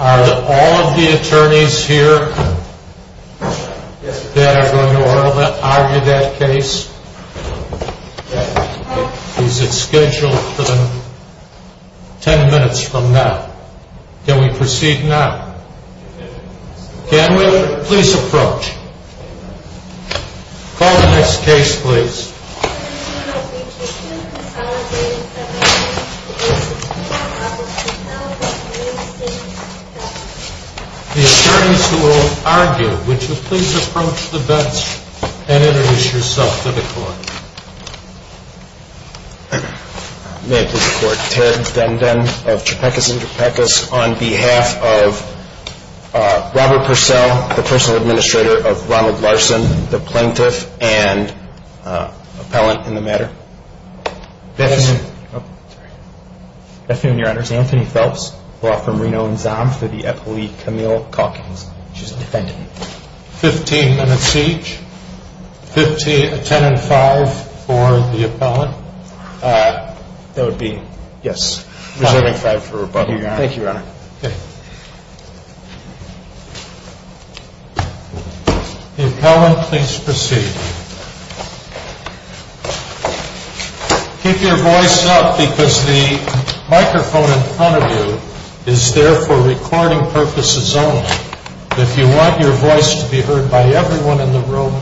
Are all of the attorneys here that are going to argue that case? Yes. Is it scheduled for 10 minutes from now? Can we proceed now? Yes. Can we? Please approach. Call the next case please. The attorneys who will argue, would you please approach the bench and introduce yourself to the court. May I please report, Terrence Dendon of Trapecus and Trapecus on behalf of Robert Purcell, the personal administrator of Ronald Larson, the plaintiff and appellant in the matter. Bethune. Bethune, your honors. Anthony Phelps, brought from Reno and Zon for the appellate Camille Calkins. She's a defendant. 15 minutes each. 10 and 5 for the appellant. That would be, yes. Reserving 5 for rebuttal, your honor. Thank you, your honor. The appellant, please proceed. Keep your voice up because the microphone in front of you is there for recording purposes only. If you want your voice to be heard by everyone in the room,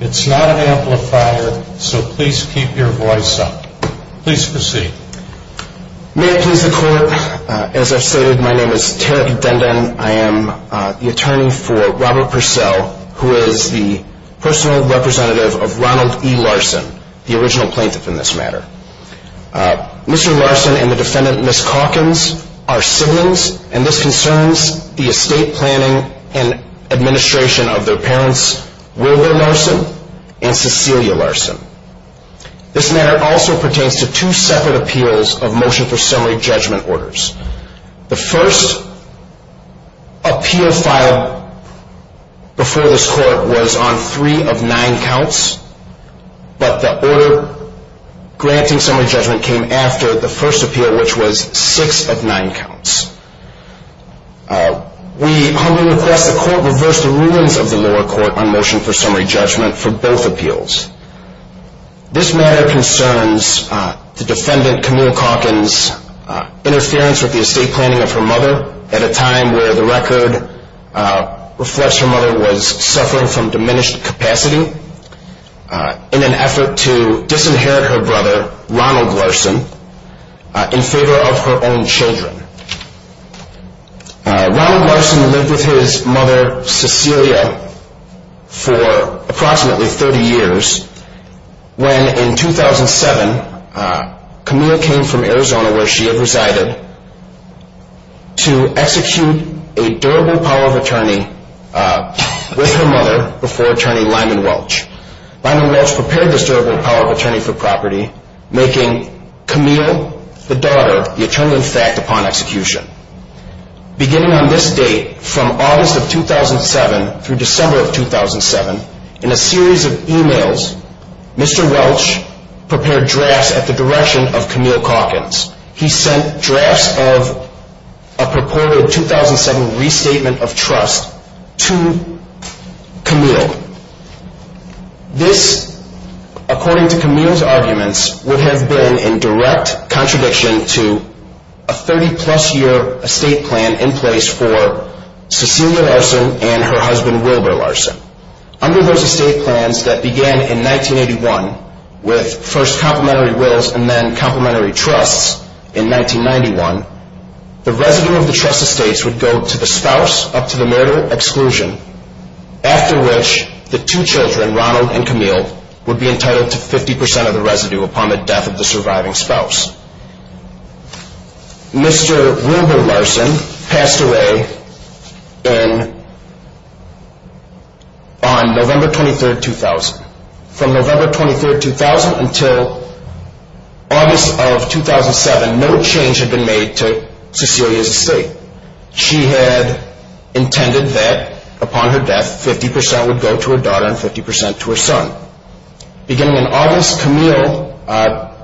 it's not an amplifier, so please keep your voice up. Please proceed. May it please the court, as I've stated, my name is Terrence Dendon. I am the attorney for Robert Purcell, who is the personal representative of Ronald E. Larson, the original plaintiff in this matter. Mr. Larson and the defendant, Ms. Calkins, are siblings, and this concerns the estate planning and administration of their parents, Wilbur Larson and Cecilia Larson. This matter also pertains to two separate appeals of motion for summary judgment orders. The first appeal filed before this court was on three of nine counts, but the order granting summary judgment came after the first appeal, which was six of nine counts. We humbly request the court reverse the rulings of the lower court on motion for summary judgment for both appeals. This matter concerns the defendant, Camille Calkins' interference with the estate planning of her mother at a time where the record reflects her mother was suffering from diminished capacity in an effort to disinherit her brother, Ronald Larson, in favor of her own children. Ronald Larson lived with his mother, Cecilia, for approximately 30 years, when in 2007 Camille came from Arizona, where she had resided, to execute a durable power of attorney with her mother before Attorney Lyman Welch. Lyman Welch prepared this durable power of attorney for property, making Camille the daughter of the attorney-in-fact upon execution. Beginning on this date, from August of 2007 through December of 2007, in a series of emails, Mr. Welch prepared drafts at the direction of Camille Calkins. He sent drafts of a purported 2007 restatement of trust to Camille. This, according to Camille's arguments, would have been in direct contradiction to a 30-plus-year estate plan in place for Cecilia Larson and her husband Wilbur Larson. Under those estate plans that began in 1981 with first complementary wills and then complementary trusts in 1991, the residue of the trust estates would go to the spouse up to the murder exclusion, after which the two children, Ronald and Camille, would be entitled to 50% of the residue upon the death of the surviving spouse. Mr. Wilbur Larson passed away on November 23, 2000. From November 23, 2000 until August of 2007, no change had been made to Cecilia's estate. She had intended that, upon her death, 50% would go to her daughter and 50% to her son. Beginning in August, Camille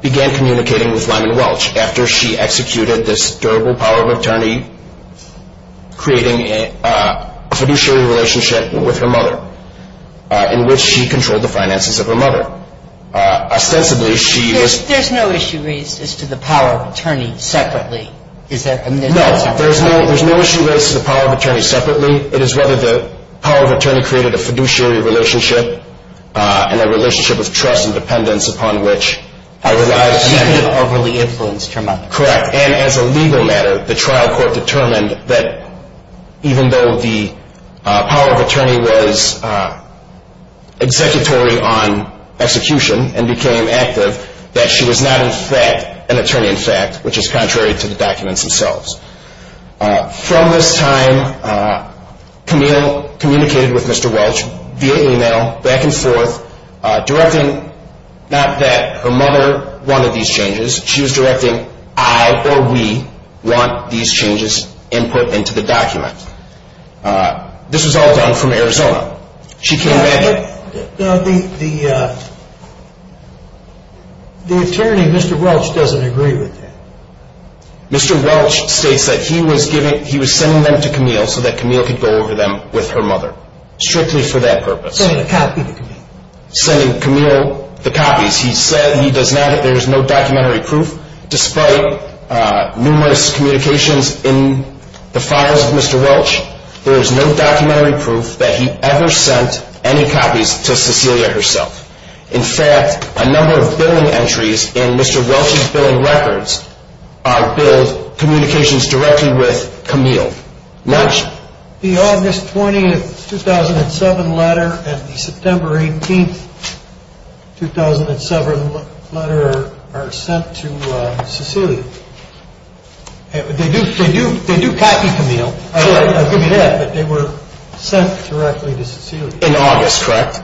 began communicating with Lyman Welch after she executed this durable power of attorney, creating a fiduciary relationship with her mother, in which she controlled the finances of her mother. Ostensibly, she was... There's no issue raised as to the power of attorney separately? No, there's no issue raised to the power of attorney separately. It is whether the power of attorney created a fiduciary relationship and a relationship of trust and dependence upon which her lives depended. Overly influenced her mother. Correct, and as a legal matter, the trial court determined that, even though the power of attorney was executory on execution and became active, that she was not, in fact, an attorney in fact, which is contrary to the documents themselves. From this time, Camille communicated with Mr. Welch via email, back and forth, directing not that her mother wanted these changes, she was directing I, or we, want these changes input into the document. This was all done from Arizona. The attorney, Mr. Welch, doesn't agree with that. Mr. Welch states that he was sending them to Camille so that Camille could go over them with her mother, strictly for that purpose. Sending a copy to Camille. Sending Camille the copies. He said he does not, there is no documentary proof, despite numerous communications in the files of Mr. Welch, there is no documentary proof that he ever sent any copies to Cecilia herself. In fact, a number of billing entries in Mr. Welch's billing records are billed communications directly with Camille. The August 20, 2007 letter and the September 18, 2007 letter are sent to Cecilia. They do copy Camille, I'll give you that, but they were sent directly to Cecilia. In August, correct?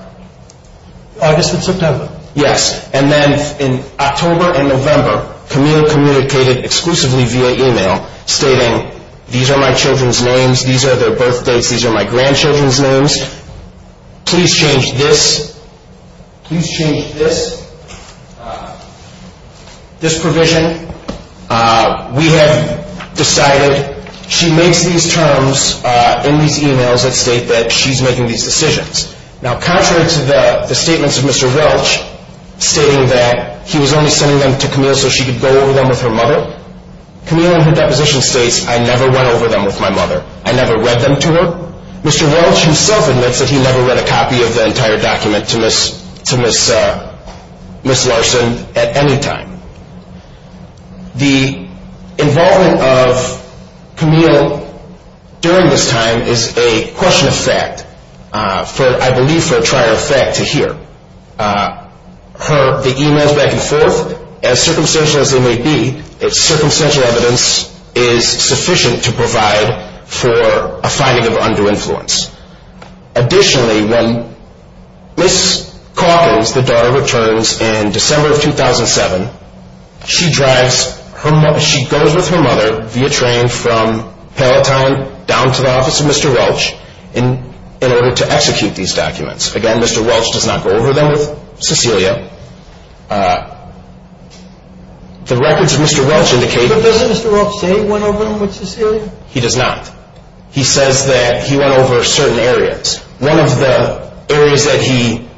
August and September. Yes. And then in October and November, Camille communicated exclusively via email, stating these are my children's names, these are their birthdates, these are my grandchildren's names. Please change this. Please change this. This provision. We have decided she makes these terms in these emails that state that she's making these decisions. Now, contrary to the statements of Mr. Welch, stating that he was only sending them to Camille so she could go over them with her mother, Camille in her deposition states, I never went over them with my mother. I never read them to her. Mr. Welch himself admits that he never read a copy of the entire document to Ms. Larson at any time. The involvement of Camille during this time is a question of fact, I believe for a trier of fact to hear. The emails back and forth, as circumstantial as they may be, it's circumstantial evidence is sufficient to provide for a finding of undue influence. Additionally, when Ms. Calkins, the daughter, returns in December of 2007, she goes with her mother via train from Pallet Town down to the office of Mr. Welch in order to execute these documents. Again, Mr. Welch does not go over them with Cecilia. The records of Mr. Welch indicate... But doesn't Mr. Welch say he went over them with Cecilia? He does not. He says that he went over certain areas. One of the areas that he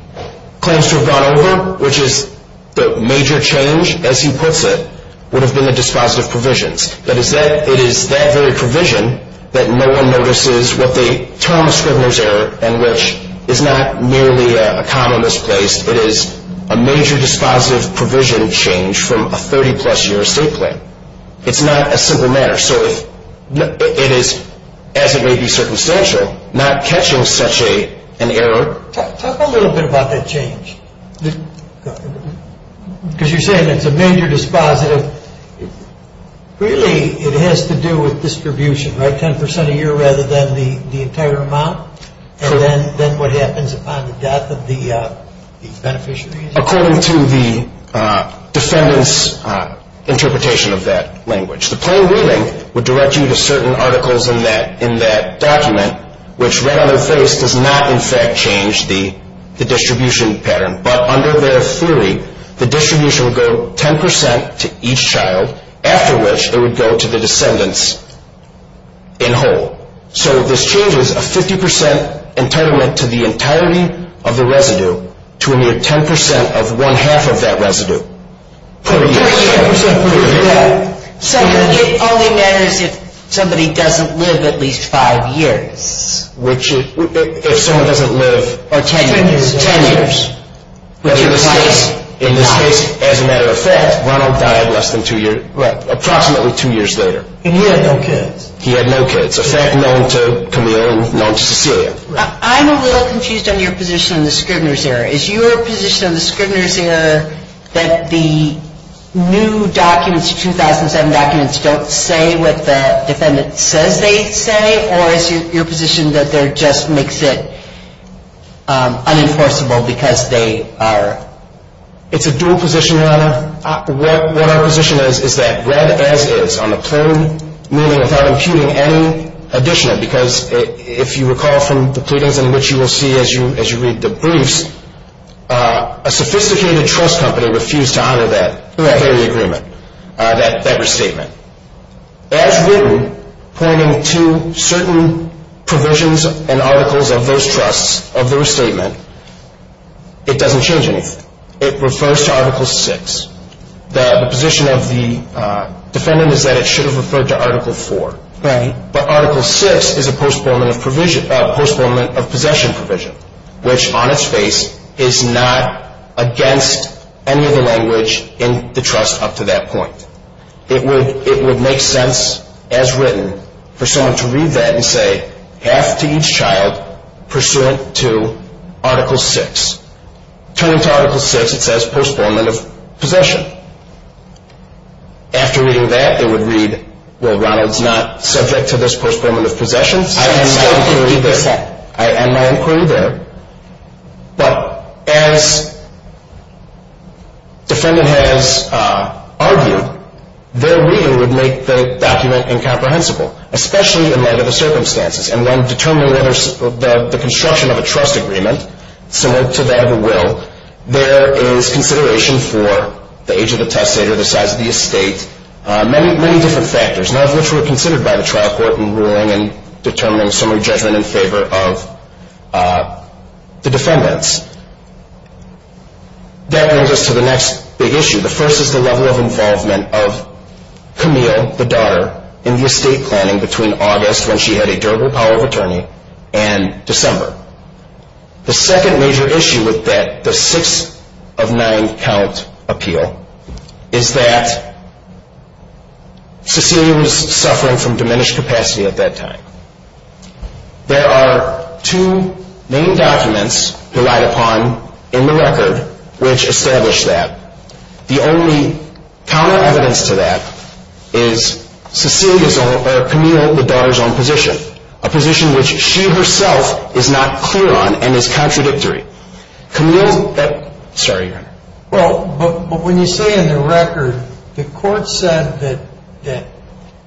claims to have gone over, which is the major change, as he puts it, would have been the dispositive provisions. That is that it is that very provision that no one notices what they term a scrivener's error and which is not merely a common misplaced, it is a major dispositive provision change from a 30-plus year estate claim. It's not a simple matter. So it is, as it may be circumstantial, not catching such an error. Talk a little bit about that change. Because you're saying it's a major dispositive. Really, it has to do with distribution, right? Ten percent a year rather than the entire amount? Sure. And then what happens upon the death of the beneficiaries? According to the defendant's interpretation of that language. The plain reading would direct you to certain articles in that document, which right on their face does not, in fact, change the distribution pattern. But under their theory, the distribution would go 10 percent to each child, after which it would go to the descendants in whole. So this changes a 50 percent entitlement to the entirety of the residue to a mere 10 percent of one-half of that residue. So it only matters if somebody doesn't live at least five years. If someone doesn't live ten years. In this case, as a matter of fact, Ronald died approximately two years later. And he had no kids. He had no kids, a fact known to Camille and known to Cecilia. I'm a little confused on your position on the Scribner's error. Is your position on the Scribner's error that the new documents, 2007 documents, don't say what the defendant says they say? Or is your position that they're just makes it unenforceable because they are? It's a dual position, Lana. What our position is is that read as is on the plain meaning without imputing any additional. Because if you recall from the pleadings in which you will see as you read the briefs, a sophisticated trust company refused to honor that agreement, that restatement. As written, pointing to certain provisions and articles of those trusts of the restatement, it doesn't change anything. It refers to Article 6. The position of the defendant is that it should have referred to Article 4. Right. But Article 6 is a postponement of possession provision, which on its face is not against any of the language in the trust up to that point. It would make sense as written for someone to read that and say, half to each child pursuant to Article 6. Turning to Article 6, it says postponement of possession. After reading that, it would read, well, Ronald's not subject to this postponement of possession. I am not going to read that. I am not going to read that. But as defendant has argued, their reading would make the document incomprehensible, especially in that of the circumstances. And when determining whether the construction of a trust agreement, similar to that of a will, there is consideration for the age of the testator, the size of the estate, many different factors, none of which were considered by the trial court in ruling and determining summary judgment in favor of the defendants. That brings us to the next big issue. The first is the level of involvement of Camille, the daughter, in the estate planning between August, when she had a durable power of attorney, and December. The second major issue with that, the six of nine count appeal, is that Cecilia was suffering from diminished capacity at that time. There are two main documents relied upon in the record which establish that. The only counter evidence to that is Camille, the daughter's own position, a position which she herself is not clear on and is contradictory. Camille, sorry. Well, but when you say in the record the court said that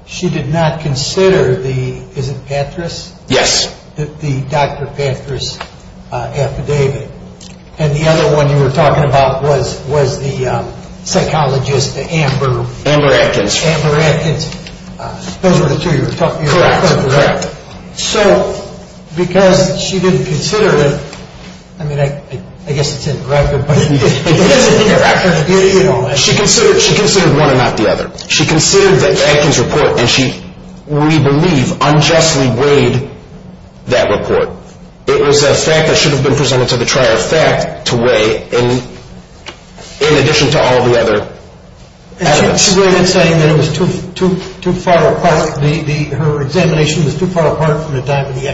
she did not consider the, is it Patras? Yes. The Dr. Patras affidavit. And the other one you were talking about was the psychologist, Amber. Amber Atkins. Amber Atkins. Those were the two you were talking about. Right. So because she didn't consider it, I mean, I guess it's in the record, but it is in the record. She considered one and not the other. She considered the Atkins report, and she, we believe, unjustly weighed that report. It was a fact that should have been presented to the trier of fact to weigh in addition to all the other evidence. So you're saying that it was too far apart, her examination was too far apart from the time of the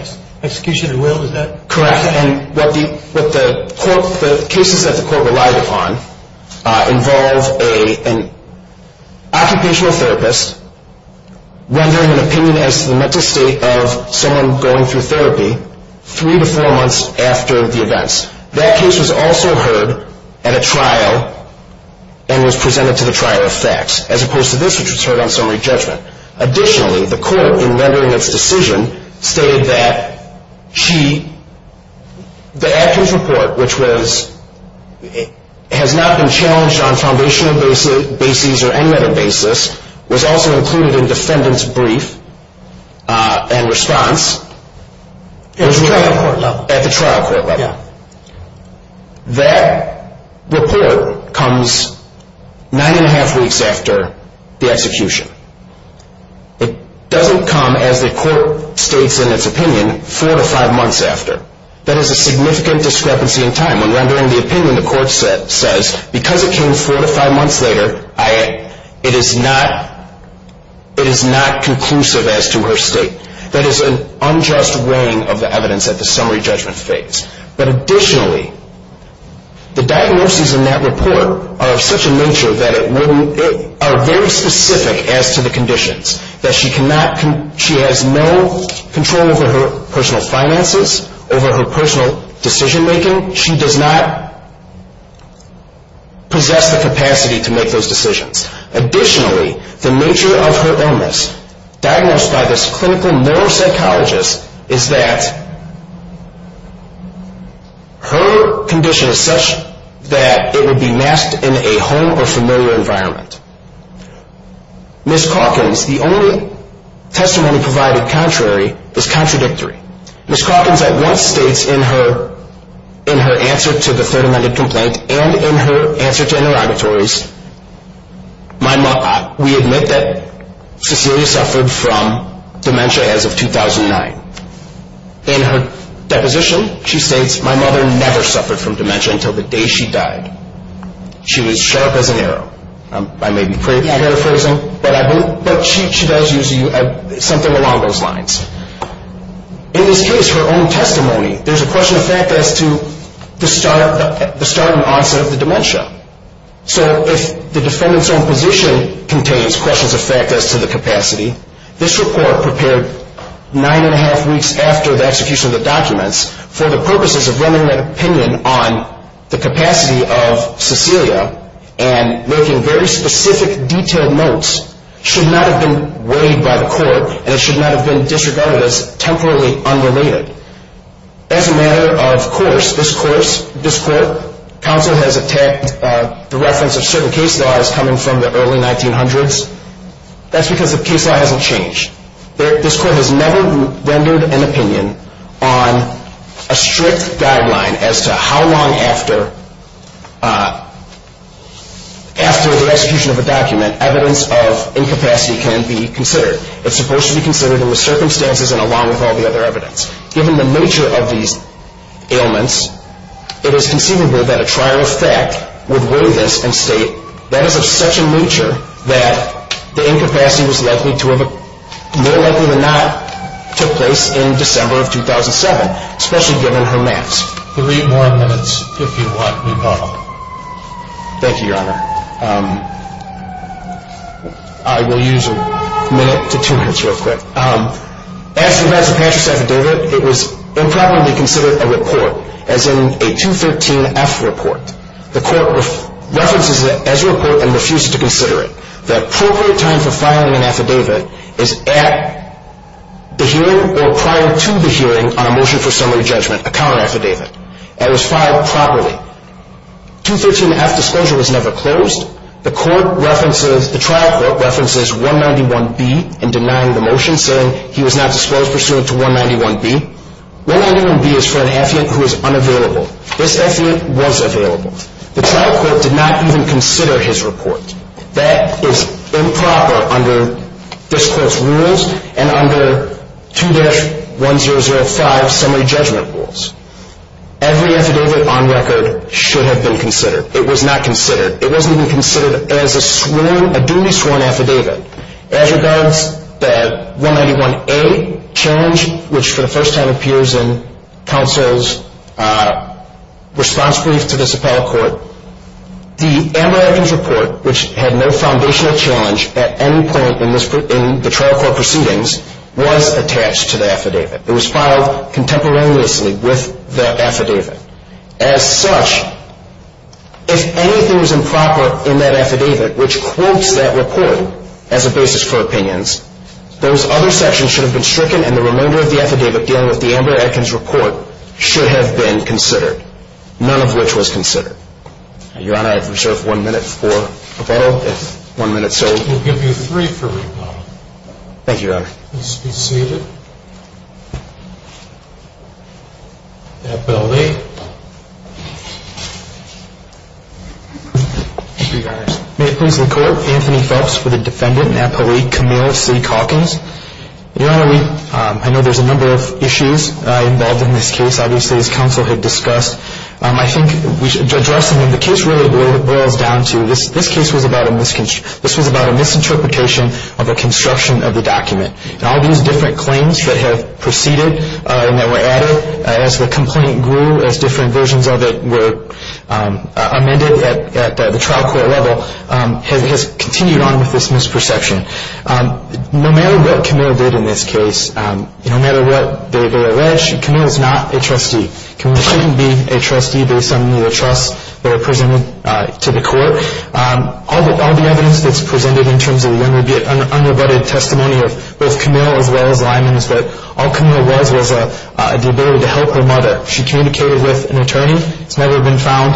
execution and will, is that correct? Correct, and what the court, the cases that the court relied upon involve an occupational therapist rendering an opinion as to the mental state of someone going through therapy three to four months after the events. That case was also heard at a trial and was presented to the trier of facts, as opposed to this, which was heard on summary judgment. Additionally, the court, in rendering its decision, stated that she, the Atkins report, which was, has not been challenged on foundational bases or any other basis, was also included in defendant's brief and response. At the trial court level. Yeah. That report comes nine and a half weeks after the execution. It doesn't come, as the court states in its opinion, four to five months after. That is a significant discrepancy in time. When rendering the opinion, the court says, because it came four to five months later, it is not conclusive as to her state. That is an unjust weighing of the evidence at the summary judgment phase. But additionally, the diagnoses in that report are of such a nature that it wouldn't, are very specific as to the conditions. That she cannot, she has no control over her personal finances, over her personal decision making. She does not possess the capacity to make those decisions. Additionally, the nature of her illness, diagnosed by this clinical neuropsychologist, is that her condition is such that it would be masked in a home or familiar environment. Ms. Calkins, the only testimony provided contrary is contradictory. Ms. Calkins at once states in her answer to the third amended complaint and in her answer to interrogatories, we admit that Cecilia suffered from dementia as of 2009. In her deposition, she states, my mother never suffered from dementia until the day she died. She was sharp as an arrow. I may be paraphrasing, but she does use something along those lines. In this case, her own testimony, there is a question of fact as to the start and onset of the dementia. So if the defendant's own position contains questions of fact as to the capacity, this report prepared nine and a half weeks after the execution of the documents for the purposes of rendering an opinion on the capacity of Cecilia and making very specific, detailed notes should not have been weighed by the court and it should not have been disregarded as temporarily unrelated. As a matter of course, this court, counsel has attacked the reference of certain case laws coming from the early 1900s. That's because the case law hasn't changed. This court has never rendered an opinion on a strict guideline as to how long after the execution of a document, evidence of incapacity can be considered. It's supposed to be considered in the circumstances and along with all the other evidence. Given the nature of these ailments, it is conceivable that a trial of fact would weigh this and state that is of such a nature that the incapacity was more likely than not took place in December of 2007, especially given her mass. Three more minutes, if you want me, Paul. Thank you, Your Honor. I will use a minute to two minutes real quick. As to Professor Patrick's affidavit, it was improperly considered a report, as in a 213F report. The court references it as a report and refuses to consider it. The appropriate time for filing an affidavit is at the hearing or prior to the hearing on a motion for summary judgment, a counter affidavit, and it was filed properly. 213F disclosure was never closed. The trial court references 191B in denying the motion, saying he was not disposed pursuant to 191B. 191B is for an affiant who is unavailable. This affiant was available. The trial court did not even consider his report. That is improper under this court's rules and under 2-1005 summary judgment rules. Every affidavit on record should have been considered. It was not considered. It wasn't even considered as a sworn, a duly sworn affidavit. As regards the 191A challenge, which for the first time appears in counsel's response brief to this appellate court, the Amber Evans report, which had no foundational challenge at any point in the trial court proceedings, was attached to the affidavit. It was filed contemporaneously with that affidavit. As such, if anything was improper in that affidavit, which quotes that report as a basis for opinions, those other sections should have been stricken, and the remainder of the affidavit dealing with the Amber Evans report should have been considered, none of which was considered. Your Honor, I reserve one minute for rebuttal, if one minute's sold. We'll give you three for rebuttal. Thank you, Your Honor. Please be seated. Appellate. Thank you, Your Honor. May it please the court, Anthony Phelps for the defendant, an appellate, Camille C. Calkins. Your Honor, I know there's a number of issues involved in this case. Obviously, as counsel had discussed, I think addressing them, the case really boils down to, this case was about a misinterpretation of a construction of the document. And all these different claims that have proceeded and that were added as the complaint grew, as different versions of it were amended at the trial court level, has continued on with this misperception. No matter what Camille did in this case, no matter what they allege, Camille is not a trustee. Camille shouldn't be a trustee based on the trusts that are presented to the court. All the evidence that's presented in terms of the unrebutted testimony of both Camille as well as Lyman's, all Camille was was the ability to help her mother. She communicated with an attorney. It's never been found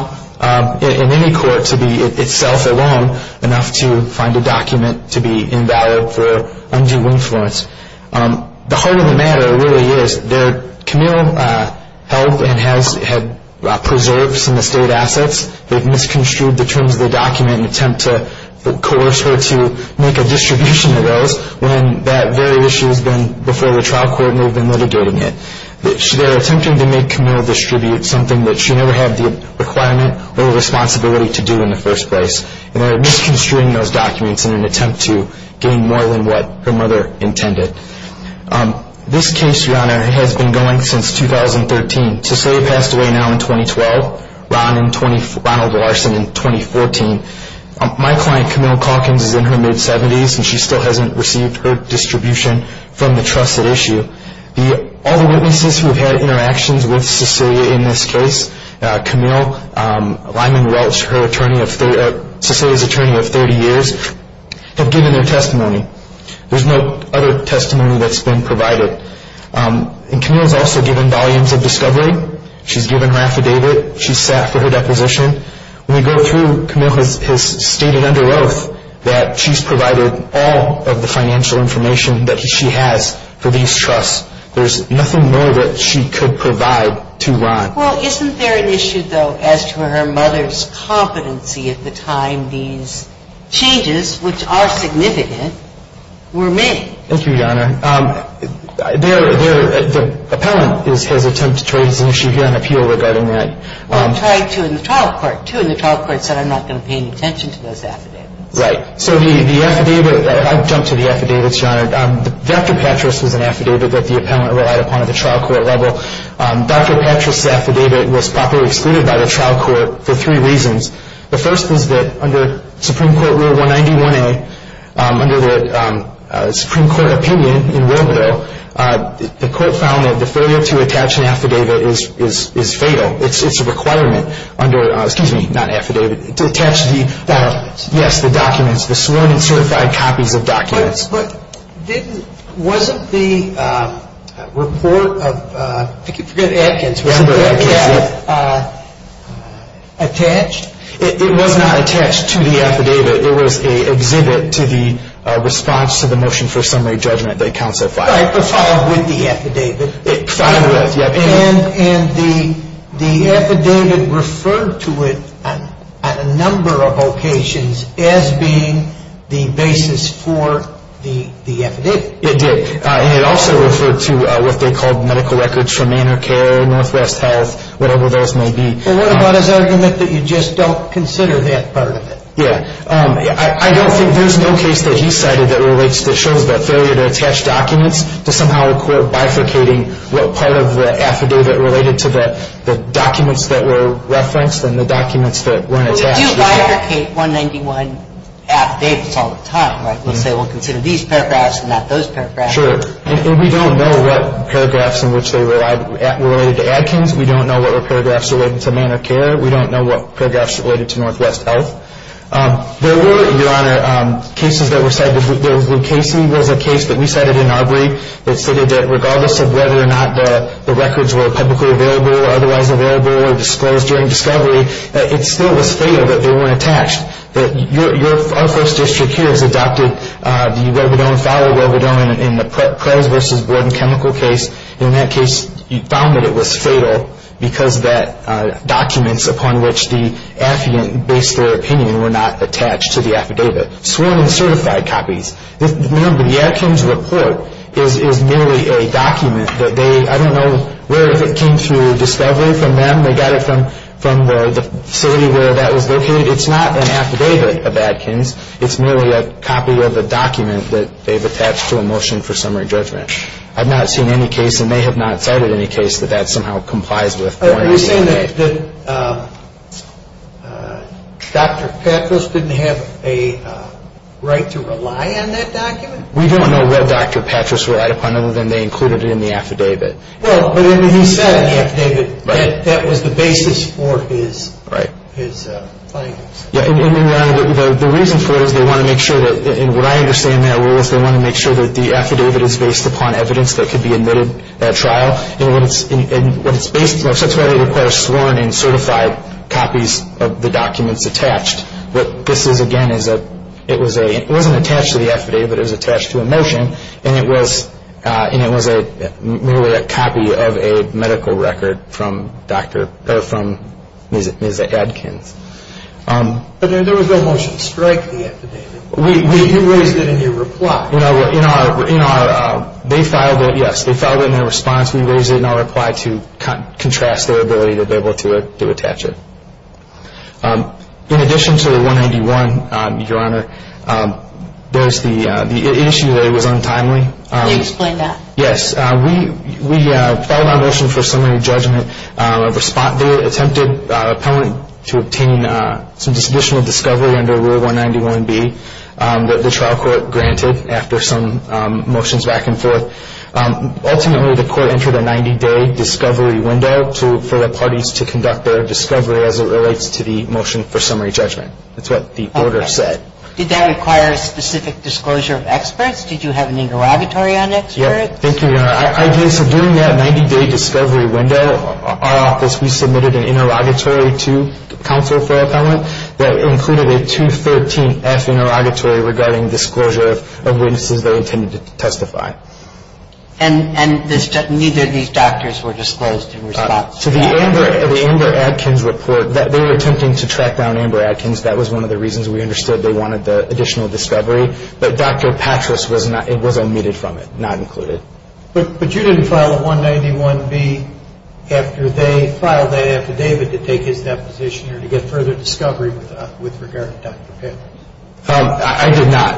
in any court to be itself alone enough to find a document to be invalid for undue influence. The heart of the matter really is that Camille held and has preserved some estate assets. They've misconstrued the terms of the document in an attempt to coerce her to make a distribution of those when that very issue has been before the trial court and they've been litigating it. They're attempting to make Camille distribute something that she never had the requirement or responsibility to do in the first place. They're misconstruing those documents in an attempt to gain more than what her mother intended. This case, Your Honor, has been going since 2013. Cecilia passed away now in 2012, Ronald Larson in 2014. My client, Camille Calkins, is in her mid-70s and she still hasn't received her distribution from the trusted issue. All the witnesses who have had interactions with Cecilia in this case, Camille Lyman Welch, Cecilia's attorney of 30 years, have given their testimony. There's no other testimony that's been provided. Camille's also given volumes of discovery. She's given her affidavit. She's sat for her deposition. When we go through, Camille has stated under oath that she's provided all of the financial information that she has for these trusts. There's nothing more that she could provide to Ron. Well, isn't there an issue, though, as to her mother's competency at the time these changes, which are significant, were made? Thank you, Your Honor. The appellant has attempted to raise an issue here on appeal regarding that. Well, it tried to in the trial court, too, and the trial court said, I'm not going to pay any attention to those affidavits. Right. So the affidavit, I'll jump to the affidavits, Your Honor. Dr. Patras was an affidavit that the appellant relied upon at the trial court level. Dr. Patras' affidavit was properly excluded by the trial court for three reasons. The first was that under Supreme Court Rule 191A, under the Supreme Court opinion in World War, the court found that the failure to attach an affidavit is fatal. It's a requirement under, excuse me, not affidavit, to attach the, yes, the documents, the sworn and certified copies of documents. But didn't, wasn't the report of, I forget Adkins, was that attached? It was not attached to the affidavit. It was an exhibit to the response to the motion for summary judgment that counts as filed. Right, but filed with the affidavit. Filed with, yes. And the affidavit referred to it on a number of occasions as being the basis for the affidavit. It did. And it also referred to what they called medical records from InterCare, Northwest Health, whatever those may be. Well, what about his argument that you just don't consider that part of it? Yeah. I don't think, there's no case that he cited that relates to, shows the failure to attach documents to somehow a court bifurcating what part of the affidavit related to the documents that were referenced and the documents that weren't attached. Well, we do bifurcate 191 affidavits all the time, right? We'll say we'll consider these paragraphs and not those paragraphs. Sure. And we don't know what paragraphs in which they were related to Adkins. We don't know what were paragraphs related to Medicare. We don't know what paragraphs related to Northwest Health. There were, Your Honor, cases that were cited. There was Lou Casey. There was a case that we cited in our brief that stated that regardless of whether or not the records were publicly available or otherwise available or disclosed during discovery, it still was fatal that they weren't attached. Our first district here has adopted the Webber-Doan file, Webber-Doan in the Prez v. Borden chemical case. In that case, you found that it was fatal because that documents upon which the affidavit based their opinion were not attached to the affidavit. Sworn and certified copies. Remember, the Adkins report is merely a document that they, I don't know where it came through discovery from them. They got it from the facility where that was located. It's not an affidavit of Adkins. It's merely a copy of a document that they've attached to a motion for summary judgment. I've not seen any case, and they have not cited any case, that that somehow complies with Borden's affidavit. You're saying that Dr. Patras didn't have a right to rely on that document? We don't know what Dr. Patras relied upon, other than they included it in the affidavit. Well, but he said in the affidavit that that was the basis for his claims. Right. The reason for it is they want to make sure that, and what I understand their role is they want to make sure that the affidavit is based upon evidence that could be admitted at trial. And what it's based on, that's why they require sworn and certified copies of the documents attached. What this is, again, it wasn't attached to the affidavit. It was attached to a motion, and it was merely a copy of a medical record from Ms. Adkins. But there was no motion to strike the affidavit. You raised it in your reply. They filed it, yes. They filed it in their response. We raised it in our reply to contrast their ability to be able to attach it. In addition to the 191, Your Honor, there's the issue that it was untimely. Can you explain that? Yes. We filed our motion for summary judgment. The motion was to obtain a 90-day discovery of the affidavit, and the trial court granted that after some motions back and forth. Ultimately, the court entered a 90-day discovery window for the parties to conduct their discovery as it relates to the motion for summary judgment. That's what the order said. Okay. Did that require a specific disclosure of experts? Did you have any derogatory on experts? No. Thank you, Your Honor. During that 90-day discovery window, our office, we submitted an interrogatory to counsel for appellant that included a 213-F interrogatory regarding disclosure of witnesses they intended to testify. And neither of these doctors were disclosed in response? To the Amber Adkins report, they were attempting to track down Amber Adkins. That was one of the reasons we understood they wanted the additional discovery. But Dr. Patras was omitted from it, not included. But you didn't file a 191-B after they filed that after David to take his deposition or to get further discovery with regard to Dr. Patras? I did not.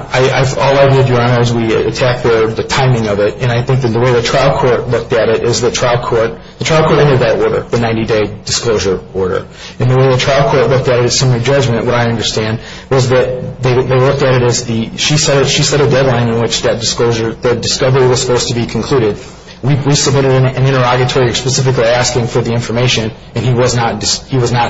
All I did, Your Honor, is we checked the timing of it, and I think that the way the trial court looked at it is the trial court entered that order, the 90-day disclosure order. And the way the trial court looked at it in summary judgment, what I understand, was that they looked at it as she set a deadline in which that discovery was supposed to be concluded. We submitted an interrogatory specifically asking for the information, and he was not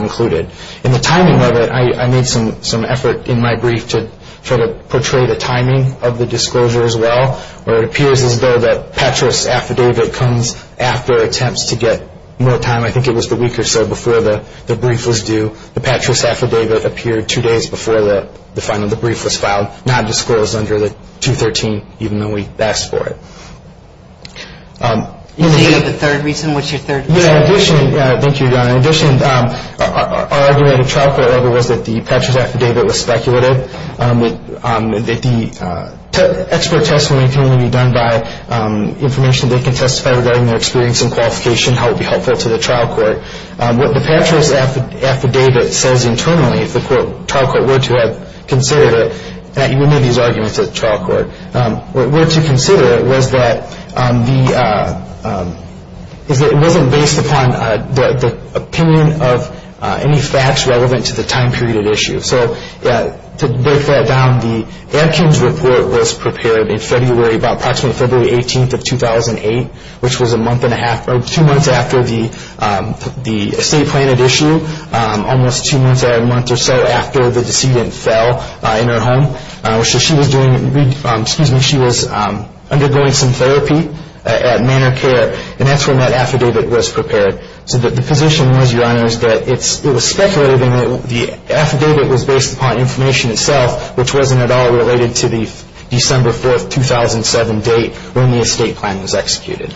included. In the timing of it, I made some effort in my brief to try to portray the timing of the disclosure as well, where it appears as though that Patras' affidavit comes after attempts to get more time. I think it was the week or so before the brief was due. The Patras' affidavit appeared two days before the final of the brief was filed, not disclosed under the 213, even though we asked for it. Do you have a third reason? What's your third reason? Thank you, Your Honor. In addition, our argument at the trial court level was that the Patras' affidavit was speculative, that the expert tests were maintained to be done by information they can testify regarding their experience and qualification, how it would be helpful to the trial court. What the Patras' affidavit says internally, if the trial court were to have considered it, we made these arguments at the trial court, were to consider it was that it wasn't based upon the opinion of any facts relevant to the time period at issue. So to break that down, the Adkins report was prepared in February, about approximately February 18th of 2008, which was a month and a half, or two months after the estate plan at issue, almost two months, a month or so after the decedent fell in her home. So she was doing, excuse me, she was undergoing some therapy at Manor Care, and that's when that affidavit was prepared. So the position was, Your Honor, is that it was speculating, the affidavit was based upon information itself, which wasn't at all related to the December 4th, 2007 date when the estate plan was executed.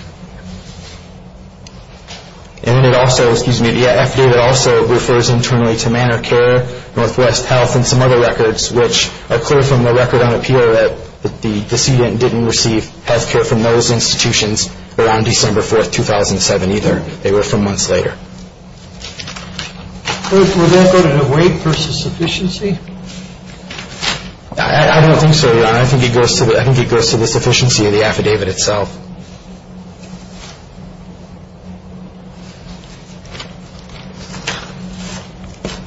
And it also, excuse me, the affidavit also refers internally to Manor Care, Northwest Health, and some other records which are clear from the record on appeal that the decedent didn't receive health care from those institutions around December 4th, 2007 either. They were from months later. Would that go to the weight versus sufficiency? I don't think so, Your Honor. I think it goes to the sufficiency of the affidavit itself.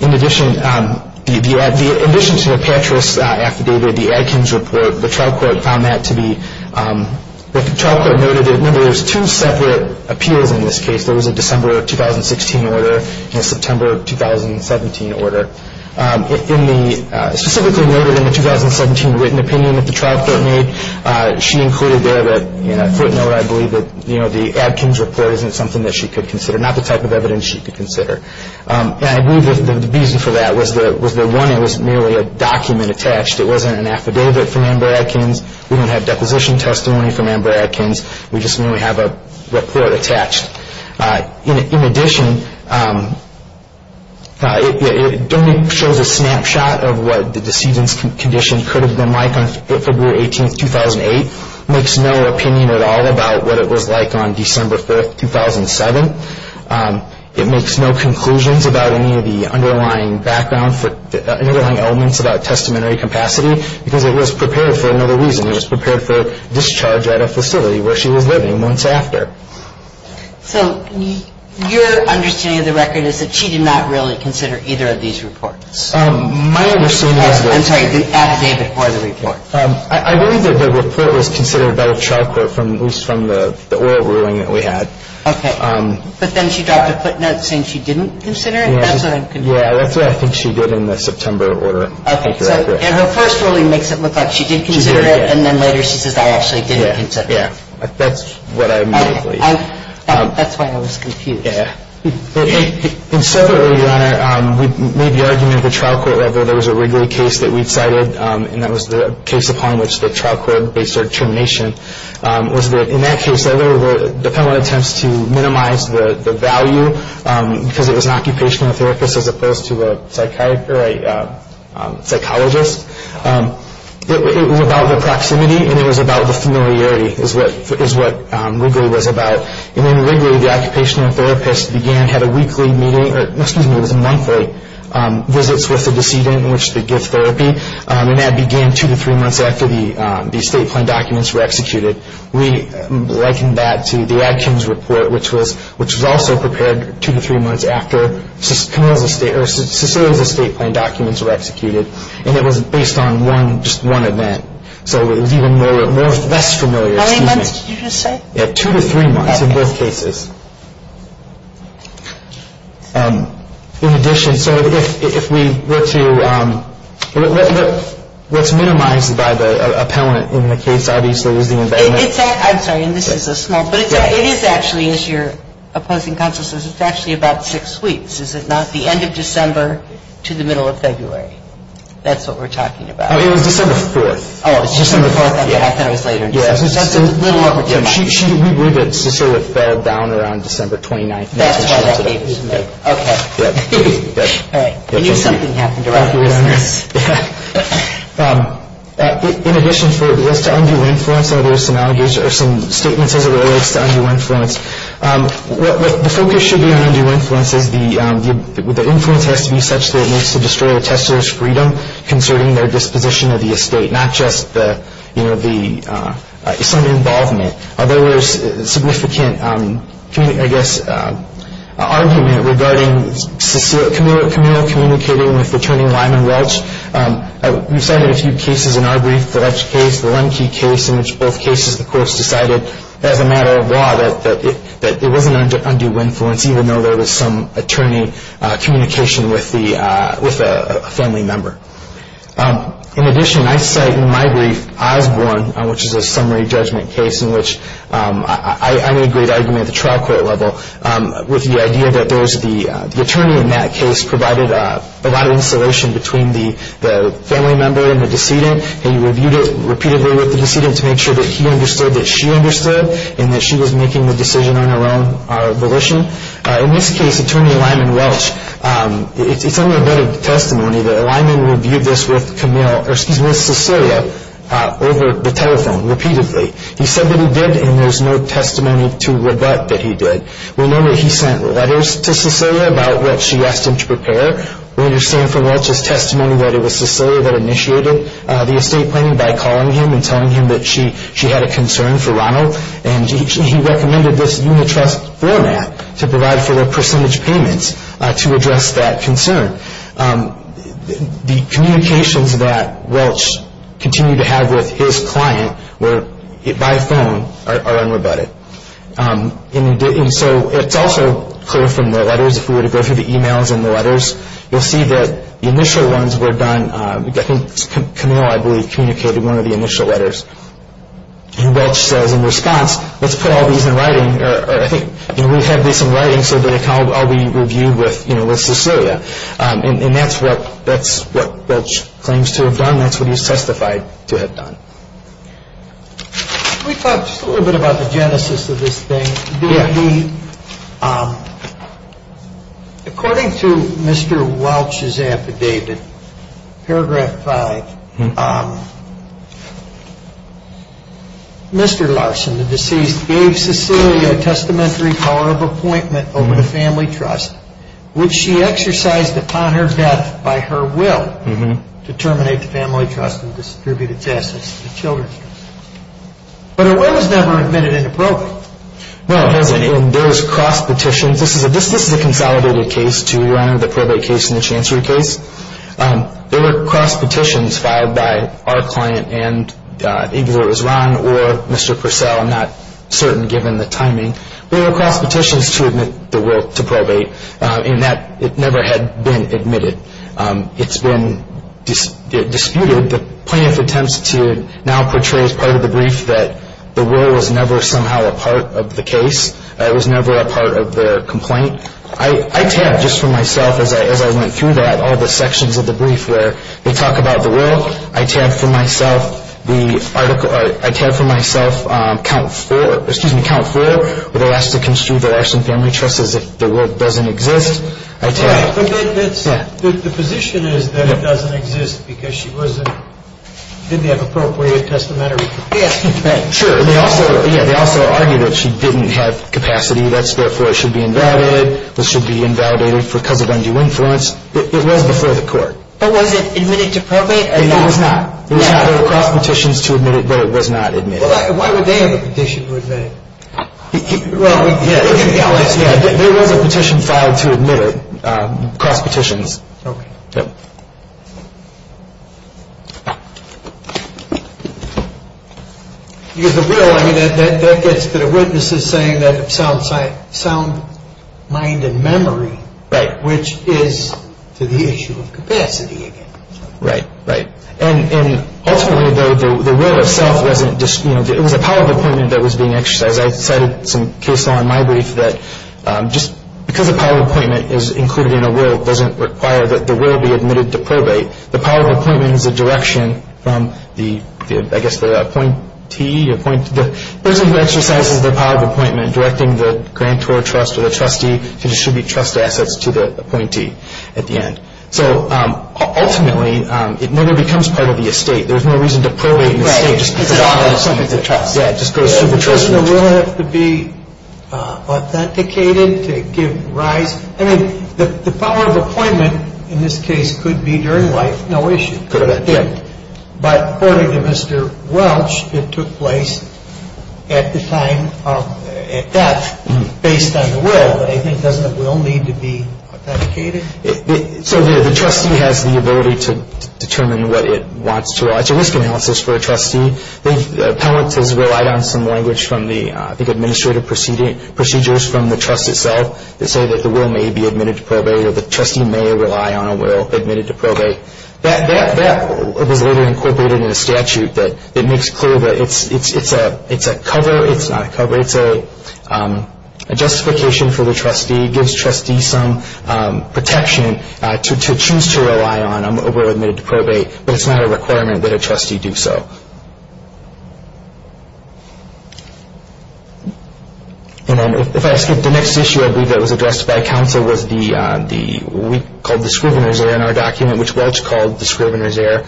In addition to the Petras affidavit, the Adkins report, the trial court found that to be, the trial court noted that, remember, there's two separate appeals in this case. There was a December of 2016 order and a September of 2017 order. In the, specifically noted in the 2017 written opinion that the trial court made, she included there that, footnote, I believe that the Adkins report isn't something that she could consider, not the type of evidence she could consider. And I believe that the reason for that was that, one, it was merely a document attached. It wasn't an affidavit from Amber Adkins. We don't have deposition testimony from Amber Adkins. We just merely have a report attached. In addition, it only shows a snapshot of what the decedent's condition could have been like on February 18th, 2008. It makes no opinion at all about what it was like on December 4th, 2007. It makes no conclusions about any of the underlying background, underlying elements about testimony capacity because it was prepared for another reason. It was prepared for discharge at a facility where she was living once after. So your understanding of the record is that she did not really consider either of these reports? My understanding is that. I'm sorry, the affidavit or the report. I believe that the report was considered by the trial court from the oral ruling that we had. Okay. But then she dropped a footnote saying she didn't consider it? That's what I'm confused about. Yeah, that's what I think she did in the September order. Okay. And her first ruling makes it look like she did consider it. She did, yeah. And then later she says, I actually didn't consider it. Yeah, yeah. That's what I immediately. Okay. That's why I was confused. Yeah. And separately, Your Honor, we made the argument at the trial court level, there was a Wrigley case that we'd cited, and that was the case upon which the trial court based our determination, was that in that case there were dependent attempts to minimize the value, because it was an occupational therapist as opposed to a psychologist. It was about the proximity, and it was about the familiarity, is what Wrigley was about. And in Wrigley, the occupational therapist began, had a weekly meeting, or excuse me, it was a monthly visits with the decedent in which they give therapy, and that began two to three months after the state plan documents were executed. We likened that to the Ag Kim's report, which was also prepared two to three months after Cecilia's estate plan documents were executed, and it was based on just one event. So it was even more or less familiar. How many months did you just say? Two to three months in both cases. In addition, so if we were to, what's minimized by the appellant in the case, obviously, is the event. I'm sorry, and this is a small, but it is actually, as your opposing counsel says, it's actually about six weeks, is it not? The end of December to the middle of February. That's what we're talking about. It was December 4th. Oh, it was December 4th, and it was later in December. We believe that Cecilia fell down around December 29th. That's why that date was made. Okay. All right. I knew something happened around this. In addition, as to undue influence, there are some statements as it relates to undue influence. The focus should be on undue influence as the influence has to be such that it needs to destroy a tester's freedom concerning their disposition of the estate, not just some involvement. Although there's significant, I guess, argument regarding Cecilia Camille communicating with Attorney Lyman Welch. We cited a few cases in our brief, the Welch case, the Lemke case, in which both cases, of course, decided as a matter of law that it wasn't undue influence, even though there was some attorney communication with a family member. In addition, I cite in my brief Osborne, which is a summary judgment case in which I made great argument at the trial court level with the idea that the attorney in that case provided a lot of insulation between the family member and the decedent. He reviewed it repeatedly with the decedent to make sure that he understood that she understood and that she was making the decision on her own volition. In this case, Attorney Lyman Welch, it's under the bed of testimony that Lyman reviewed this with Cecilia over the telephone repeatedly. He said that he did, and there's no testimony to rebut that he did. We know that he sent letters to Cecilia about what she asked him to prepare. We understand from Welch's testimony that it was Cecilia that initiated the estate planning by calling him and telling him that she had a concern for Ronald, and he recommended this unit trust format to provide for the percentage payments to address that concern. The communications that Welch continued to have with his client by phone are unrebutted. It's also clear from the letters, if we were to go through the emails and the letters, you'll see that the initial ones were done, I think Camille, I believe, communicated one of the initial letters. And Welch says in response, let's put all these in writing, or I think we have these in writing so that it can all be reviewed with Cecilia. And that's what Welch claims to have done. That's what he's testified to have done. Can we talk just a little bit about the genesis of this thing? According to Mr. Welch's affidavit, paragraph 5, Mr. Larson, the deceased, gave Cecilia a testamentary power of appointment over the family trust, which she exercised upon her death by her will to terminate the family trust and distribute its assets to the children's trust. But her will was never admitted into probate. Well, there was cross petitions. This is a consolidated case to honor the probate case in the Chancery case. There were cross petitions filed by our client and either it was Ron or Mr. Purcell, I'm not certain given the timing, but there were cross petitions to admit the will to probate in that it never had been admitted. It's been disputed. The plaintiff attempts to now portray as part of the brief that the will was never somehow a part of the case. It was never a part of their complaint. I tabbed just for myself as I went through that all the sections of the brief where they talk about the will. I tabbed for myself count four where they're asked to construe the Larson Family Trust as if the will doesn't exist. I tabbed. The position is that it doesn't exist because she didn't have appropriate testamentary capacity. Sure. They also argue that she didn't have capacity. That's therefore it should be invalidated. This should be invalidated because of undue influence. It was before the court. But was it admitted to probate? It was not. There were cross petitions to admit it, but it was not admitted. Why would they have a petition? Yeah, there was a petition filed to admit it, cross petitions. Okay. Yeah. Because the will, I mean, that gets the witnesses saying that it's sound mind and memory. Right. Which is to the issue of capacity again. Right, right. And ultimately the will itself wasn't, you know, it was a power of appointment that was being exercised. I cited some case law in my brief that just because a power of appointment is included in a will doesn't require that the will be admitted to probate. The power of appointment is a direction from the, I guess, the appointee, the person who exercises the power of appointment directing the grantor trust or the trustee to distribute trust assets to the appointee at the end. Right. So ultimately it never becomes part of the estate. There's no reason to probate the estate just because it's a trust. Yeah, it just goes through the trust. Doesn't the will have to be authenticated to give rise? I mean, the power of appointment in this case could be during life, no issue. Could have been, yeah. But according to Mr. Welch, it took place at the time of death based on the will. Well, I think doesn't the will need to be authenticated? So the trustee has the ability to determine what it wants to. It's a risk analysis for a trustee. Appellant has relied on some language from the, I think, administrative procedures from the trust itself that say that the will may be admitted to probate or the trustee may rely on a will admitted to probate. That was later incorporated in a statute that makes clear that it's a cover, it's not a cover. It's a justification for the trustee. It gives trustees some protection to choose to rely on a will admitted to probate, but it's not a requirement that a trustee do so. And then if I skip the next issue, I believe that was addressed by counsel, was the week called the Scrivener's Error in our document, which Welch called the Scrivener's Error.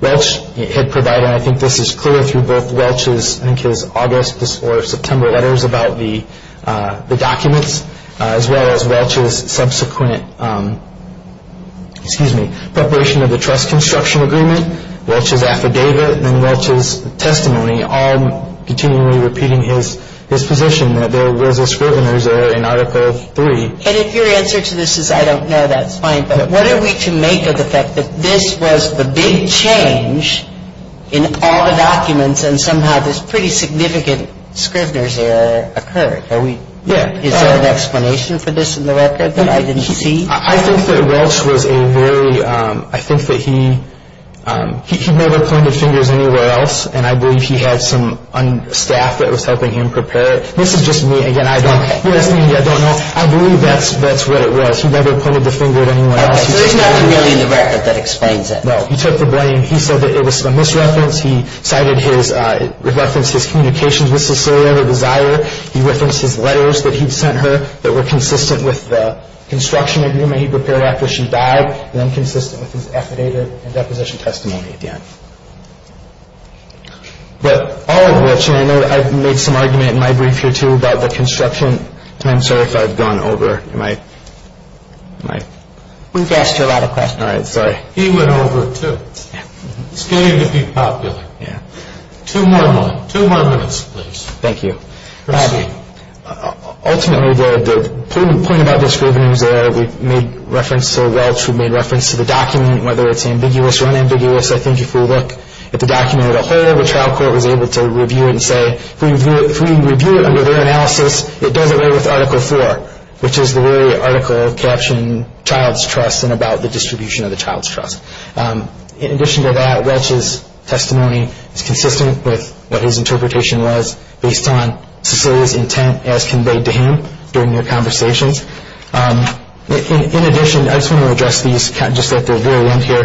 Welch had provided, and I think this is clear through both Welch's, I think his August or September letters about the documents, as well as Welch's subsequent, excuse me, preparation of the trust construction agreement, Welch's affidavit, and then Welch's testimony, all continually repeating his position that there was a Scrivener's Error in Article III. And if your answer to this is I don't know, that's fine. But what are we to make of the fact that this was the big change in all the documents and somehow this pretty significant Scrivener's Error occurred? Are we, is there an explanation for this in the record that I didn't see? I think that Welch was a very, I think that he, he never pointed fingers anywhere else, and I believe he had some staff that was helping him prepare it. This is just me, again, I don't, this is me, I don't know, I believe that's what it was. But he never pointed the finger at anyone else. Okay, so there's nothing really in the record that explains it. No, he took the blame. He said that it was a misreference. He cited his, referenced his communications with Cecilia, the desirer. He referenced his letters that he'd sent her that were consistent with the construction agreement he prepared after she died, and then consistent with his affidavit and deposition testimony at the end. But all of which, and I know I've made some argument in my brief here too about the construction, and I'm sorry if I've gone over my, my. We've asked you a lot of questions. All right, sorry. He went over it too. Yeah. It's getting to be popular. Yeah. Two more minutes, two more minutes, please. Thank you. Go ahead. Ultimately, the point about misgivings there, we made reference to Welch, we made reference to the document, whether it's ambiguous or unambiguous. I think if we look at the document as a whole, the trial court was able to review it and say, if we review it under their analysis, it doesn't lay with Article 4, which is the very article captioned Child's Trust and about the distribution of the child's trust. In addition to that, Welch's testimony is consistent with what his interpretation was based on Cecilia's intent as conveyed to him during their conversations. In addition, I just want to address these just at the very end here.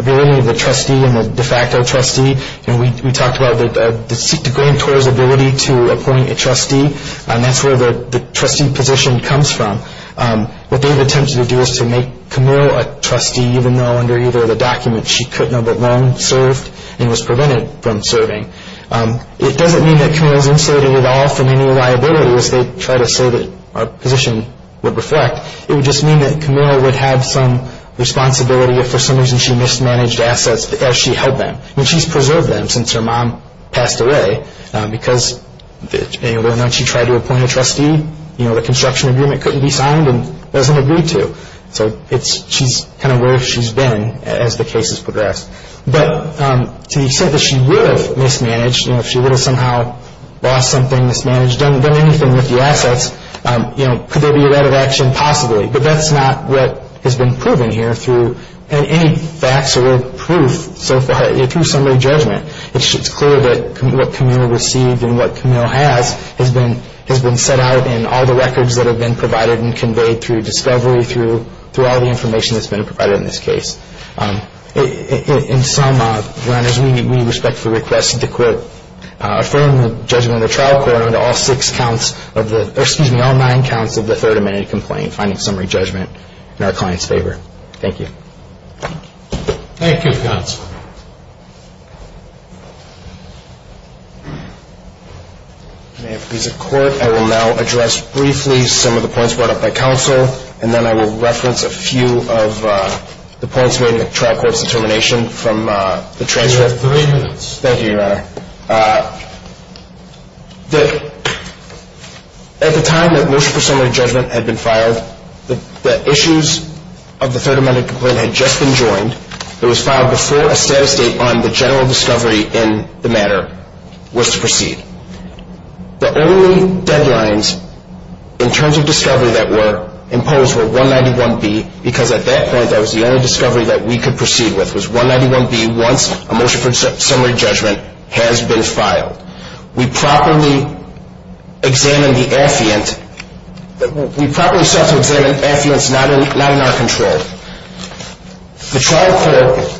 Relating to the trustee and the de facto trustee, we talked about the grantor's ability to appoint a trustee, and that's where the trustee position comes from. What they've attempted to do is to make Camille a trustee, even though under either of the documents she could not have been served and was prevented from serving. It doesn't mean that Camille is insulated at all from any liabilities. They try to say that our position would reflect. It would just mean that Camille would have some responsibility if for some reason she mismanaged assets as she held them. I mean, she's preserved them since her mom passed away, because whether or not she tried to appoint a trustee, the construction agreement couldn't be signed and doesn't agree to. So she's kind of where she's been as the case has progressed. But to the extent that she would have mismanaged, if she would have somehow lost something, mismanaged, done anything with the assets, could there be a rat of action? Possibly. But that's not what has been proven here through any facts or proof so far, through summary judgment. It's clear that what Camille received and what Camille has has been set out in all the records that have been provided and conveyed through discovery, through all the information that's been provided in this case. In sum, Your Honors, we respectfully request that the court affirm the judgment from the trial court on all six counts of the, or excuse me, all nine counts of the Third Amendment complaint, finding summary judgment in our client's favor. Thank you. Thank you, Counselor. May it please the Court, I will now address briefly some of the points brought up by Counsel, and then I will reference a few of the points made in the trial court's determination from the transcript. You have three minutes. Thank you, Your Honor. At the time that motion for summary judgment had been filed, the issues of the Third Amendment complaint had just been joined. It was filed before a status date on the general discovery in the matter was to proceed. The only deadlines in terms of discovery that were imposed were 191B, because at that point that was the only discovery that we could proceed with, was 191B, once a motion for summary judgment has been filed. We properly examined the affiant. We properly sought to examine affiants not in our control. The trial court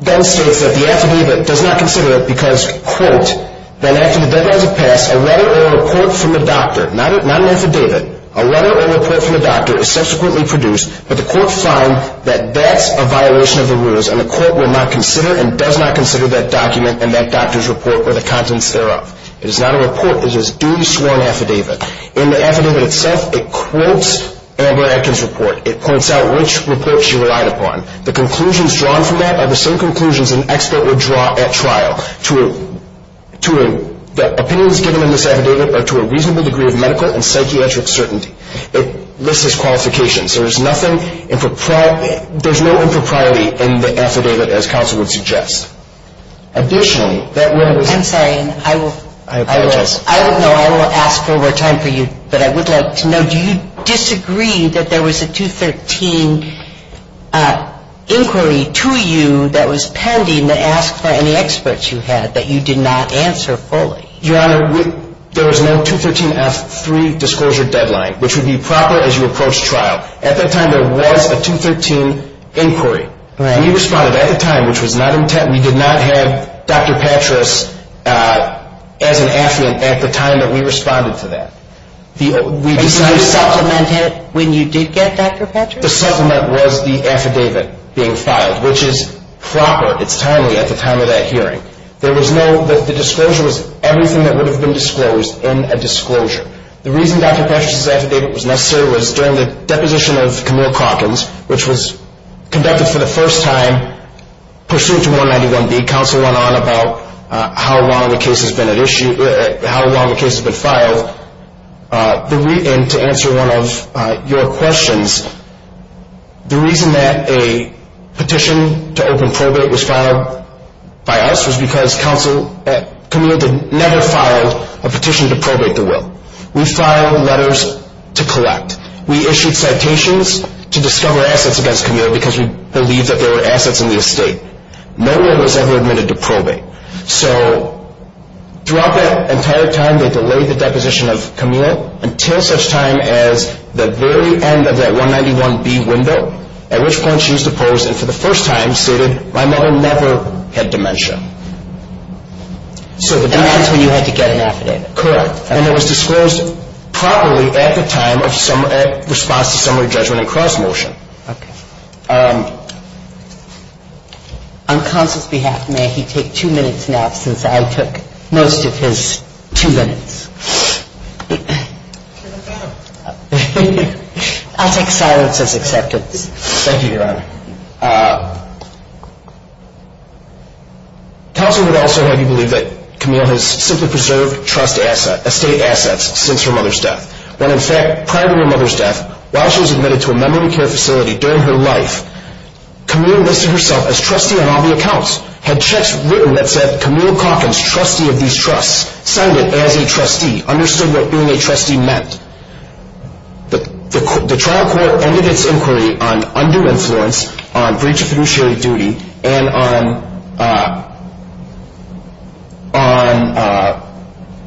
then states that the affidavit does not consider it because, quote, that after the deadlines have passed, a letter or a report from the doctor, not an affidavit, a letter or a report from the doctor is subsequently produced, but the court finds that that's a violation of the rules, and the court will not consider and does not consider that document and that doctor's report or the contents thereof. It is not a report. It is a duly sworn affidavit. In the affidavit itself, it quotes Amber Atkins' report. It points out which report she relied upon. The conclusions drawn from that are the same conclusions an expert would draw at trial. The opinions given in this affidavit are to a reasonable degree of medical and psychiatric certainty. It lists its qualifications. There is nothing improper – there's no impropriety in the affidavit as counsel would suggest. Additionally, that letter was – I'm sorry. I will – I apologize. I don't know. I will ask for more time for you, but I would like to know, do you disagree that there was a 213 inquiry to you that was pending that asked for any experts you had that you did not answer fully? Your Honor, there is no 213F3 disclosure deadline, which would be proper as you approach trial. At that time, there was a 213 inquiry. Right. And you responded at the time, which was not intent – we did not have Dr. Patras as an affidavit at the time that we responded to that. We decided – And you supplemented when you did get Dr. Patras? The supplement was the affidavit being filed, which is proper. It's timely at the time of that hearing. There was no – the disclosure was everything that would have been disclosed in a disclosure. The reason Dr. Patras' affidavit was necessary was during the deposition of Camille Calkins, which was conducted for the first time pursuant to 191B. Counsel went on about how long the case has been at issue – how long the case has been filed. And to answer one of your questions, the reason that a petition to open probate was filed by us was because counsel – We filed letters to collect. We issued citations to discover assets against Camille because we believed that there were assets in the estate. No one was ever admitted to probate. So throughout that entire time, they delayed the deposition of Camille until such time as the very end of that 191B window, at which point she was deposed and for the first time stated, my mother never had dementia. And that's when you had to get an affidavit. Correct. And it was disclosed properly at the time of response to summary judgment and cross-motion. Okay. On counsel's behalf, may he take two minutes now since I took most of his two minutes. I'll take silence as acceptance. Thank you, Your Honor. Counsel would also have you believe that Camille has simply preserved estate assets since her mother's death. When, in fact, prior to her mother's death, while she was admitted to a memory care facility during her life, Camille listed herself as trustee on all the accounts, had checks written that said Camille Calkins, trustee of these trusts, signed it as a trustee, understood what being a trustee meant. The trial court ended its inquiry on undue influence on breach of fiduciary duty and on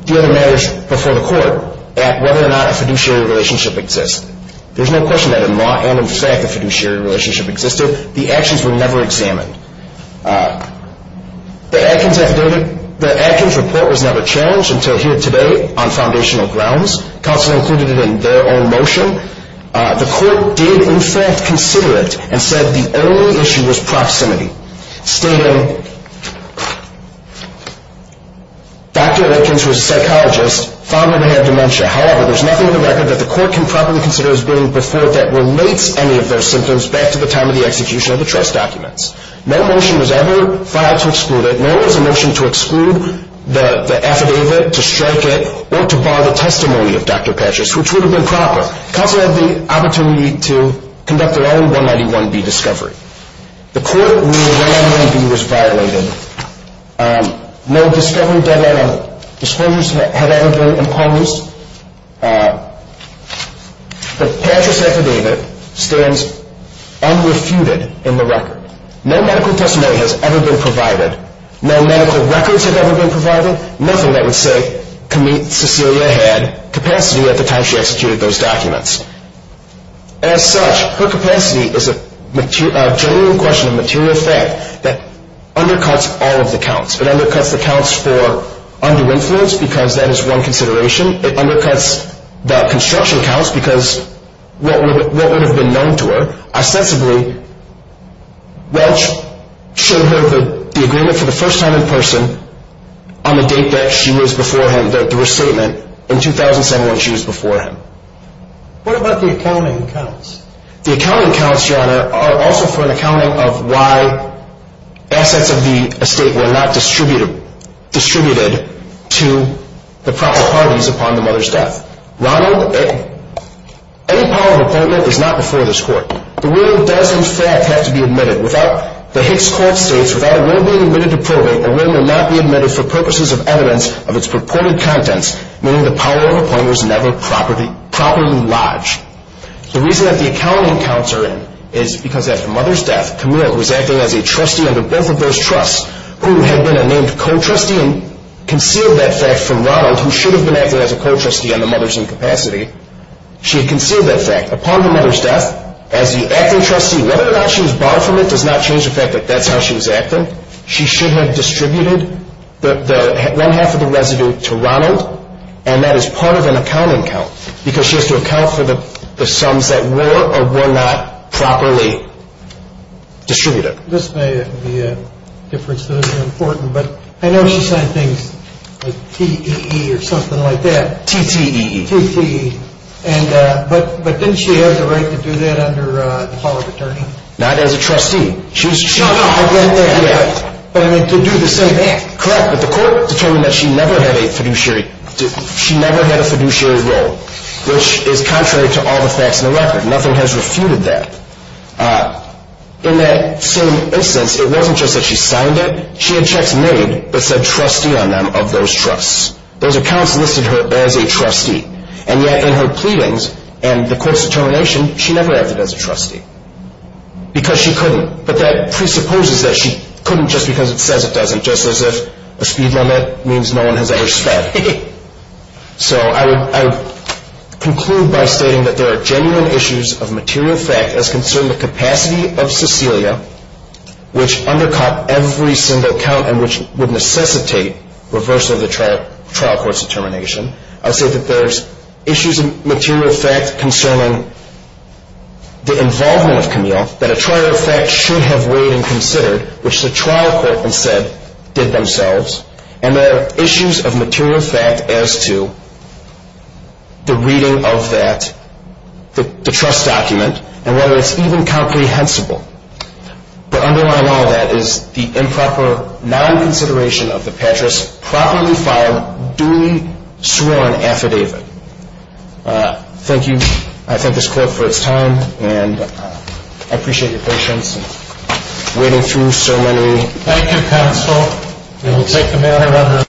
the other matters before the court at whether or not a fiduciary relationship exists. There's no question that in law and in fact a fiduciary relationship existed. The actions were never examined. The Atkins report was never challenged until here today on foundational grounds. Counsel included it in their own motion. The court did, in fact, consider it and said the only issue was proximity, stating Dr. Atkins, who is a psychologist, found her to have dementia. However, there's nothing in the record that the court can properly consider as being before it that relates any of those symptoms back to the time of the execution of the trust documents. No motion was ever filed to exclude it. No was a motion to exclude the affidavit, to strike it, or to bar the testimony of Dr. Patches, which would have been proper. Counsel had the opportunity to conduct their own 191B discovery. The court ruled 191B was violated. No discovery deadline of disclosures had ever been imposed. The Patches affidavit stands unrefuted in the record. No medical testimony has ever been provided. No medical records have ever been provided. Nothing that would say Cecilia had capacity at the time she executed those documents. As such, her capacity is a genuine question of material fact that undercuts all of the counts. It undercuts the counts for under influence because that is one consideration. It undercuts the construction counts because what would have been known to her, ostensibly, Welch showed her the agreement for the first time in person on the date that she was before him, the restatement, in 2007 when she was before him. What about the accounting counts? The accounting counts, Your Honor, are also for an accounting of why assets of the estate were not distributed to the proper parties upon the mother's death. Ronald, any power of appointment is not before this court. The will does, in fact, have to be admitted. The Hicks Court states, without a will being admitted to probate, a will will not be admitted for purposes of evidence of its purported contents, meaning the power of appointment was never properly lodged. The reason that the accounting counts are in is because at the mother's death, Camille was acting as a trustee under both of those trusts who had been a named co-trustee She had concealed that fact from Ronald, who should have been acting as a co-trustee on the mother's incapacity. She had concealed that fact. Upon the mother's death, as the acting trustee, whether or not she was barred from it does not change the fact that that's how she was acting. She should have distributed one half of the residue to Ronald, and that is part of an accounting count because she has to account for the sums that were or were not properly distributed. This may be a difference that is important, but I know she signed things like TEE or something like that. TTE. TTE. But didn't she have the right to do that under the power of attorney? Not as a trustee. Shut up! But I mean to do the same act. Correct, but the court determined that she never had a fiduciary role, which is contrary to all the facts in the record. Nothing has refuted that. In that same instance, it wasn't just that she signed it. She had checks made that said trustee on them of those trusts. Those accounts listed her as a trustee, and yet in her pleadings and the court's determination, she never acted as a trustee because she couldn't. But that presupposes that she couldn't just because it says it doesn't, just as if a speed limit means no one has ever sped. So I would conclude by stating that there are genuine issues of material fact as concerned the capacity of Cecilia, which undercut every single account and which would necessitate reversal of the trial court's determination. I would say that there's issues of material fact concerning the involvement of Camille that a trial court should have weighed and considered, which the trial court instead did themselves. And there are issues of material fact as to the reading of that, the trust document, and whether it's even comprehensible. To underline all of that is the improper non-consideration of the Patras properly filed, duly sworn affidavit. Thank you. I thank this court for its time, and I appreciate your patience in waiting through so many. Thank you, counsel. We will take the mail, however.